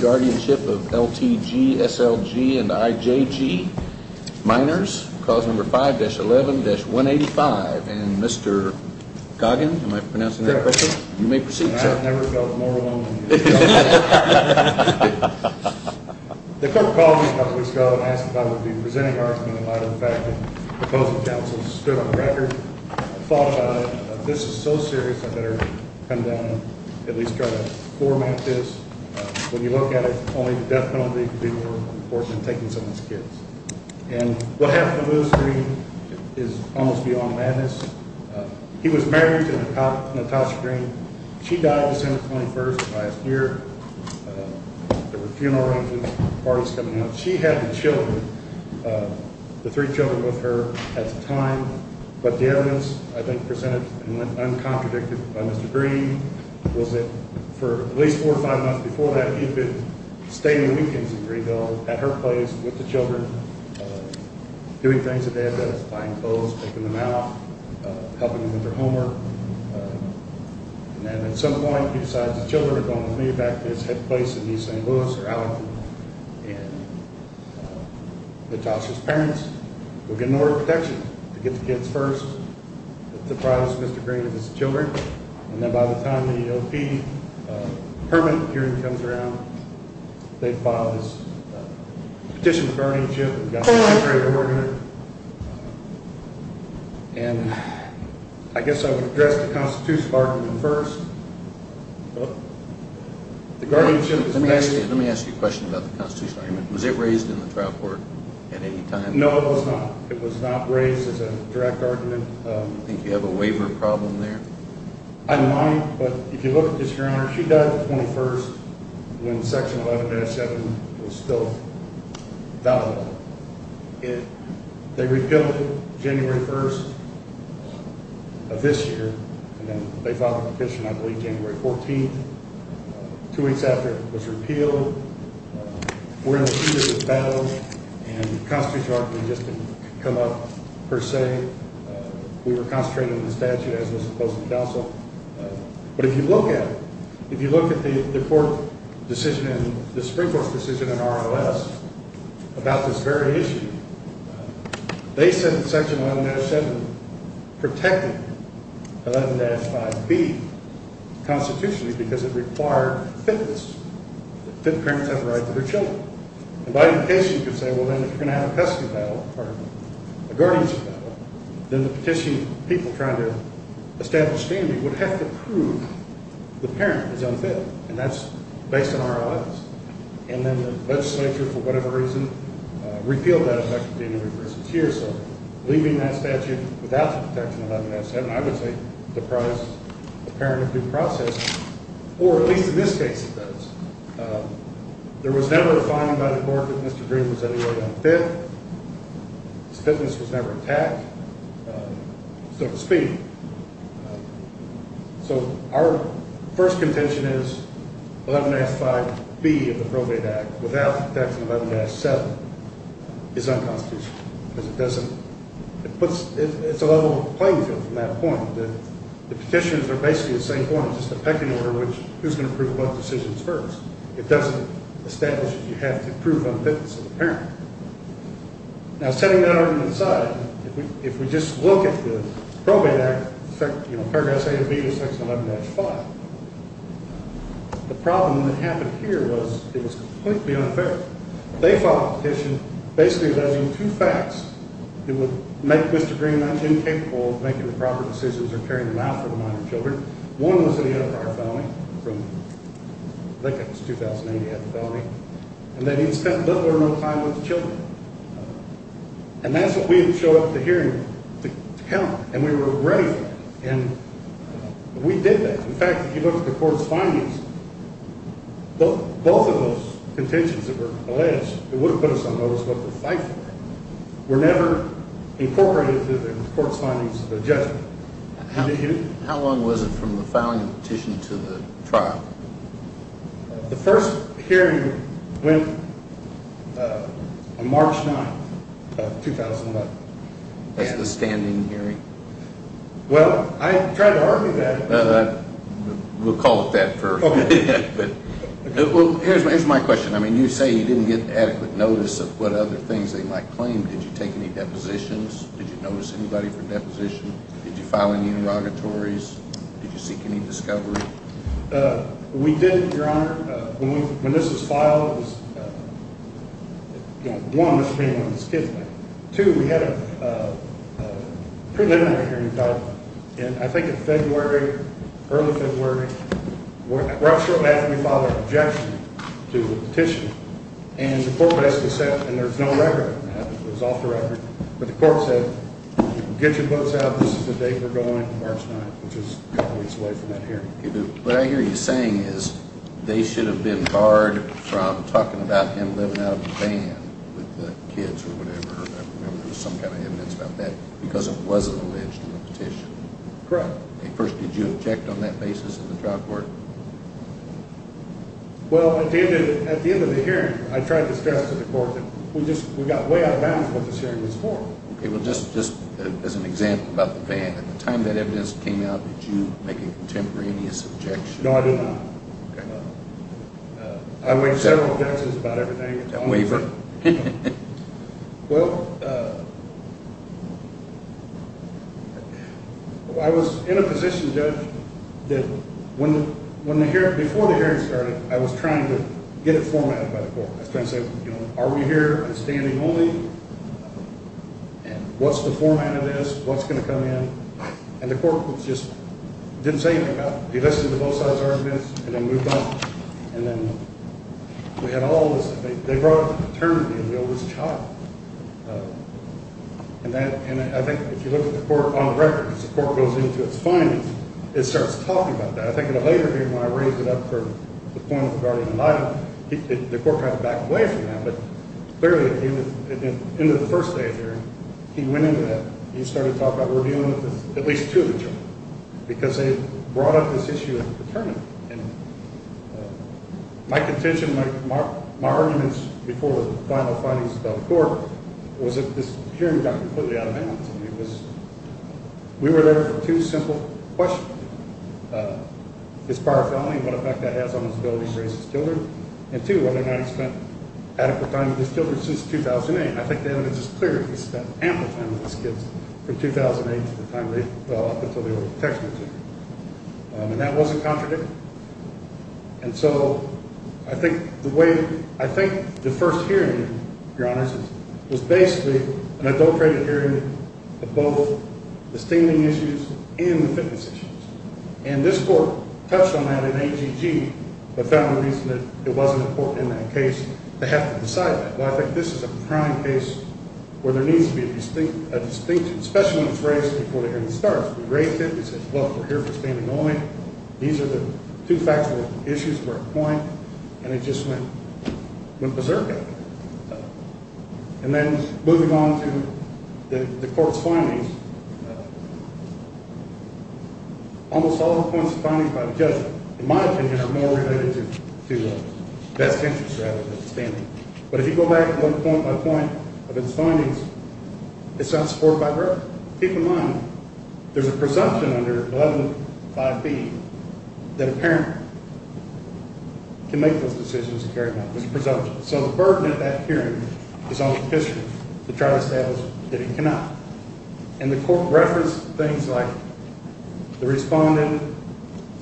Guardianship of L.T.G., S.L.G., and I.J.G. Minors. Clause number 5-11-185. And Mr. Goggin, am I pronouncing that correctly? You may proceed, sir. I've never felt more alone than you. The court called me a couple of weeks ago and asked if I would be presenting an argument in light of the fact that the opposing counsel stood on the record. I thought about it. This is so serious, I better come down and at least try to format this. When you look at it, only the death penalty would be more important than taking someone's kids. And what happened to Moose Green is almost beyond madness. He was married to Natasha Green. She died December 21st of last year. There were funeral arrangements, parties coming up. She had the children, the three children with her at the time. But the evidence, I think, presented and went uncontradicted by Mr. Green was that for at least four or five months before that, he'd been staying weekends in Greenville at her place with the children, doing things that they had done. Buying clothes, picking them out, helping them with their homework. And then at some point, he decides the children are going to move back to his head place in East St. Louis or out. And Natasha's parents will get an order of protection to get the kids first. That's the price Mr. Green has as children. And then by the time the O.P. permit hearing comes around, they file this petition of guardianship. And I guess I would address the constitutional argument first. Let me ask you a question about the constitutional argument. Was it raised in the trial court at any time? No, it was not. It was not raised as a direct argument. Do you think you have a waiver problem there? I don't mind, but if you look at this, Your Honor, she died the 21st when Section 11-7 was still valid. They repealed January 1st of this year, and then they filed a petition, I believe, January 14th, two weeks after it was repealed. We're in a two-year battle, and the constitutional argument just didn't come up per se. We were concentrating on the statute as opposed to counsel. But if you look at it, if you look at the Supreme Court's decision in R.O.S. about this very issue, they said that Section 11-7 protected 11-5B constitutionally because it required fitness, that parents have the right to their children. And by any case, you could say, well, then if you're going to have a custody battle or a guardianship battle, then the petition people trying to establish standing would have to prove the parent is unfit, and that's based on R.O.S. And then the legislature, for whatever reason, repealed that effect in January 1st of this year. So leaving that statute without the protection of 11-7, I would say, deprives the parent of due process, or at least in this case, it does. There was never a finding by the court that Mr. Green was anyway unfit. His fitness was never attacked, so to speak. So our first contention is 11-5B of the Probate Act, without the protection of 11-7, is unconstitutional. Because it doesn't – it puts – it's a level playing field from that point. The petitions are basically the same form. It's just a pecking order, which who's going to prove what decisions first. It doesn't establish that you have to prove unfitness of the parent. Now, setting that argument aside, if we just look at the Probate Act, you know, Paragraphs 8 of B to Section 11-5, the problem that happened here was it was completely unfair. They filed a petition basically alleging two facts that would make Mr. Green incapable of making the proper decisions or carrying them out for the minor children. One was that he had a prior felony from – I think that was 2008, he had the felony – and that he had spent little or no time with the children. And that's what we had shown at the hearing to count, and we were ready for that. And we did that. In fact, if you look at the court's findings, both of those contentions that were alleged, that would have put us on notice of what to fight for, were never incorporated into the court's findings of the judgment. How long was it from the filing of the petition to the trial? The first hearing went on March 9th of 2001. That's the stand-in hearing? Well, I tried to argue that. We'll call it that first. Here's my question. I mean, you say you didn't get adequate notice of what other things they might claim. Did you take any depositions? Did you notice anybody for deposition? Did you file any interrogatories? Did you seek any discovery? We did, Your Honor. When this was filed, one, Mr. Green was a kid. Two, we had a preliminary hearing filed in, I think, in February, early February. We're not sure why we filed an objection to the petition. And the court basically said, and there's no record. It was off the record. But the court said, get your books out. This is the date we're going, March 9th, which is a couple weeks away from that hearing. What I hear you saying is they should have been barred from talking about him living out of the van with the kids or whatever. I remember there was some kind of evidence about that because it wasn't alleged in the petition. Correct. First, did you object on that basis in the trial court? Well, at the end of the hearing, I tried to stress to the court that we got way out of bounds what this hearing was for. Just as an example about the van. At the time that evidence came out, did you make a contemporaneous objection? No, I did not. Okay. I waived several objections about everything. A waiver? Well, I was in a position, Judge, that before the hearing started, I was trying to get it formatted by the court. I was trying to say, are we here standing only? What's the format of this? What's going to come in? And the court just didn't say anything about it. He listened to both sides' arguments and then moved on. And then we had all this. They brought up paternity and the oldest child. And I think if you look at the court on record, as the court goes into its findings, it starts talking about that. I think in a later hearing, when I raised it up for the point of regarding an item, the court kind of backed away from that. But clearly, at the end of the first day of the hearing, he went into that. He started talking about we're dealing with at least two of the children because they brought up this issue of paternity. And my contention, my arguments before the final findings of the court was that this hearing got completely out of bounds. We were there for two simple questions. One, his prior felony and what effect that has on his ability to raise his children. And two, whether or not he spent adequate time with his children since 2008. I think the evidence is clear. He spent ample time with his kids from 2008 to the time they fell off until they were a protectionary. And that wasn't contradictory. And so I think the way, I think the first hearing, Your Honors, was basically an adulterated hearing of both the staining issues and the fitness issues. And this court touched on that in AGG but found the reason that it wasn't important in that case to have to decide that. But I think this is a prime case where there needs to be a distinct, especially when it's raised before the hearing starts. We raised it. We said, look, we're here for staining only. These are the two factual issues for a point. And it just went berserk. And then moving on to the court's findings, almost all of the points of findings by the judge, in my opinion, are more related to best interest rather than staining. But if you go back one point by point of its findings, it's not supported by a verdict. But keep in mind, there's a presumption under 11.5B that a parent can make those decisions and carry them out. There's a presumption. So the burden of that hearing is on the petitioner to try to establish that he cannot. And the court referenced things like the respondent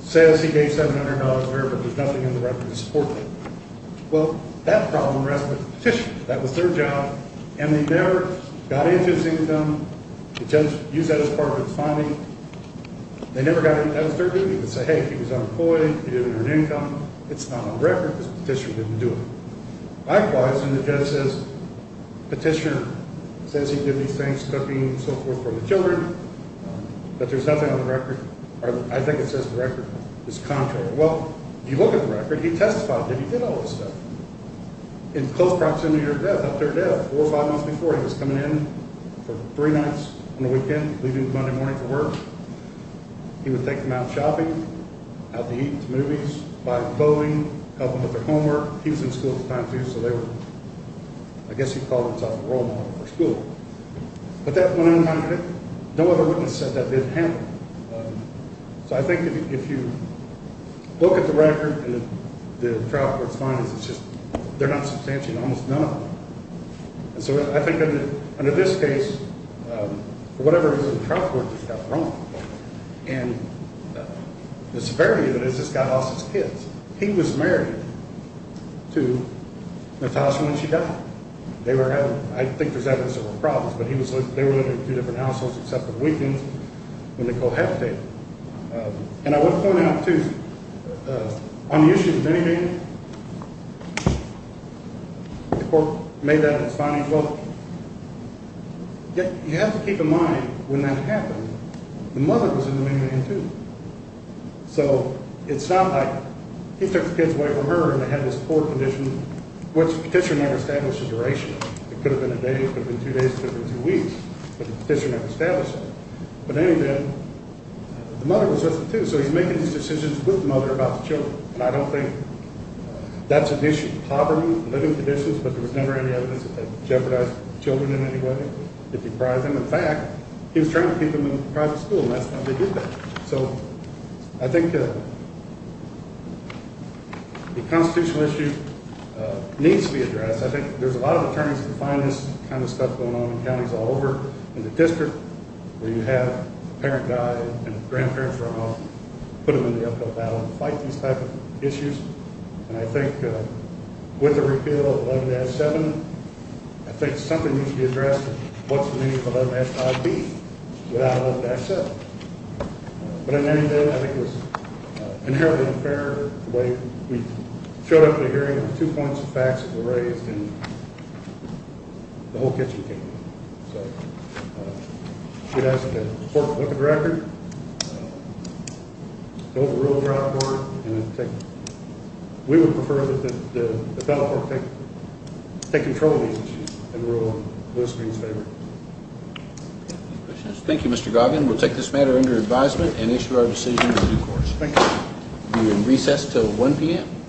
says he gave $700 a year but there's nothing in the record to support that. Well, that problem rests with the petitioner. That was their job. And they never got into his income. The judge used that as part of his finding. They never got in. That was their duty to say, hey, he was unemployed, he didn't earn income. It's not on the record because the petitioner didn't do it. Likewise, when the judge says the petitioner says he did these things, cooking and so forth for the children, that there's nothing on the record, or I think it says the record is contrary. Well, if you look at the record, he testified to it. He did all this stuff. In close proximity to their death, four or five months before, he was coming in for three nights on the weekend, leaving Monday morning for work. He would take them out shopping, out to eat, to movies, buy clothing, help them with their homework. He was in school at the time, too, so they were ‑‑ I guess he called himself a role model for school. But that went unpunished. No other witness said that didn't happen. So I think if you look at the record and the trial court's findings, it's just they're not substantial, almost none of them. And so I think under this case, for whatever reason, the trial court just got wrong. And the severity of it is this guy lost his kids. He was married to Natasha when she died. I think there's evidence there were problems, but they were living in two different households except the weekends when they cohabitated. And I want to point out, too, on the issue of the minivan, the court made that in its findings. Well, you have to keep in mind when that happened, the mother was in the minivan, too. So it's not like he took the kids away from her and they had this poor condition, which the petitioner never established a duration. It could have been a day, it could have been two days, it could have been two weeks. But the petitioner never established that. But in any event, the mother was with him, too, so he's making these decisions with the mother about the children. And I don't think that's an issue. Poverty, living conditions, but there was never any evidence that they jeopardized the children in any way, if he deprived them. In fact, he was trying to keep them in private school, and that's not how he did that. So I think the constitutional issue needs to be addressed. I think there's a lot of attorneys and finance kind of stuff going on in counties all over, in the district, where you have a parent die and a grandparent throw them out, put them in the uphill battle and fight these type of issues. And I think with the repeal of 11-7, I think something needs to be addressed. What's the meaning of 11-5B without 11-7? But in any event, I think it was inherently unfair the way we showed up to the hearing with two points of facts that were raised, and the whole kitchen came down. So we'd ask that the court look at the record. Don't rule her out of court. We would prefer that the federal court take control of the issue and rule in Lewis Green's favor. Thank you, Mr. Goggin. We'll take this matter under advisement and issue our decision in due course. Thank you. We'll be in recess until 1 p.m.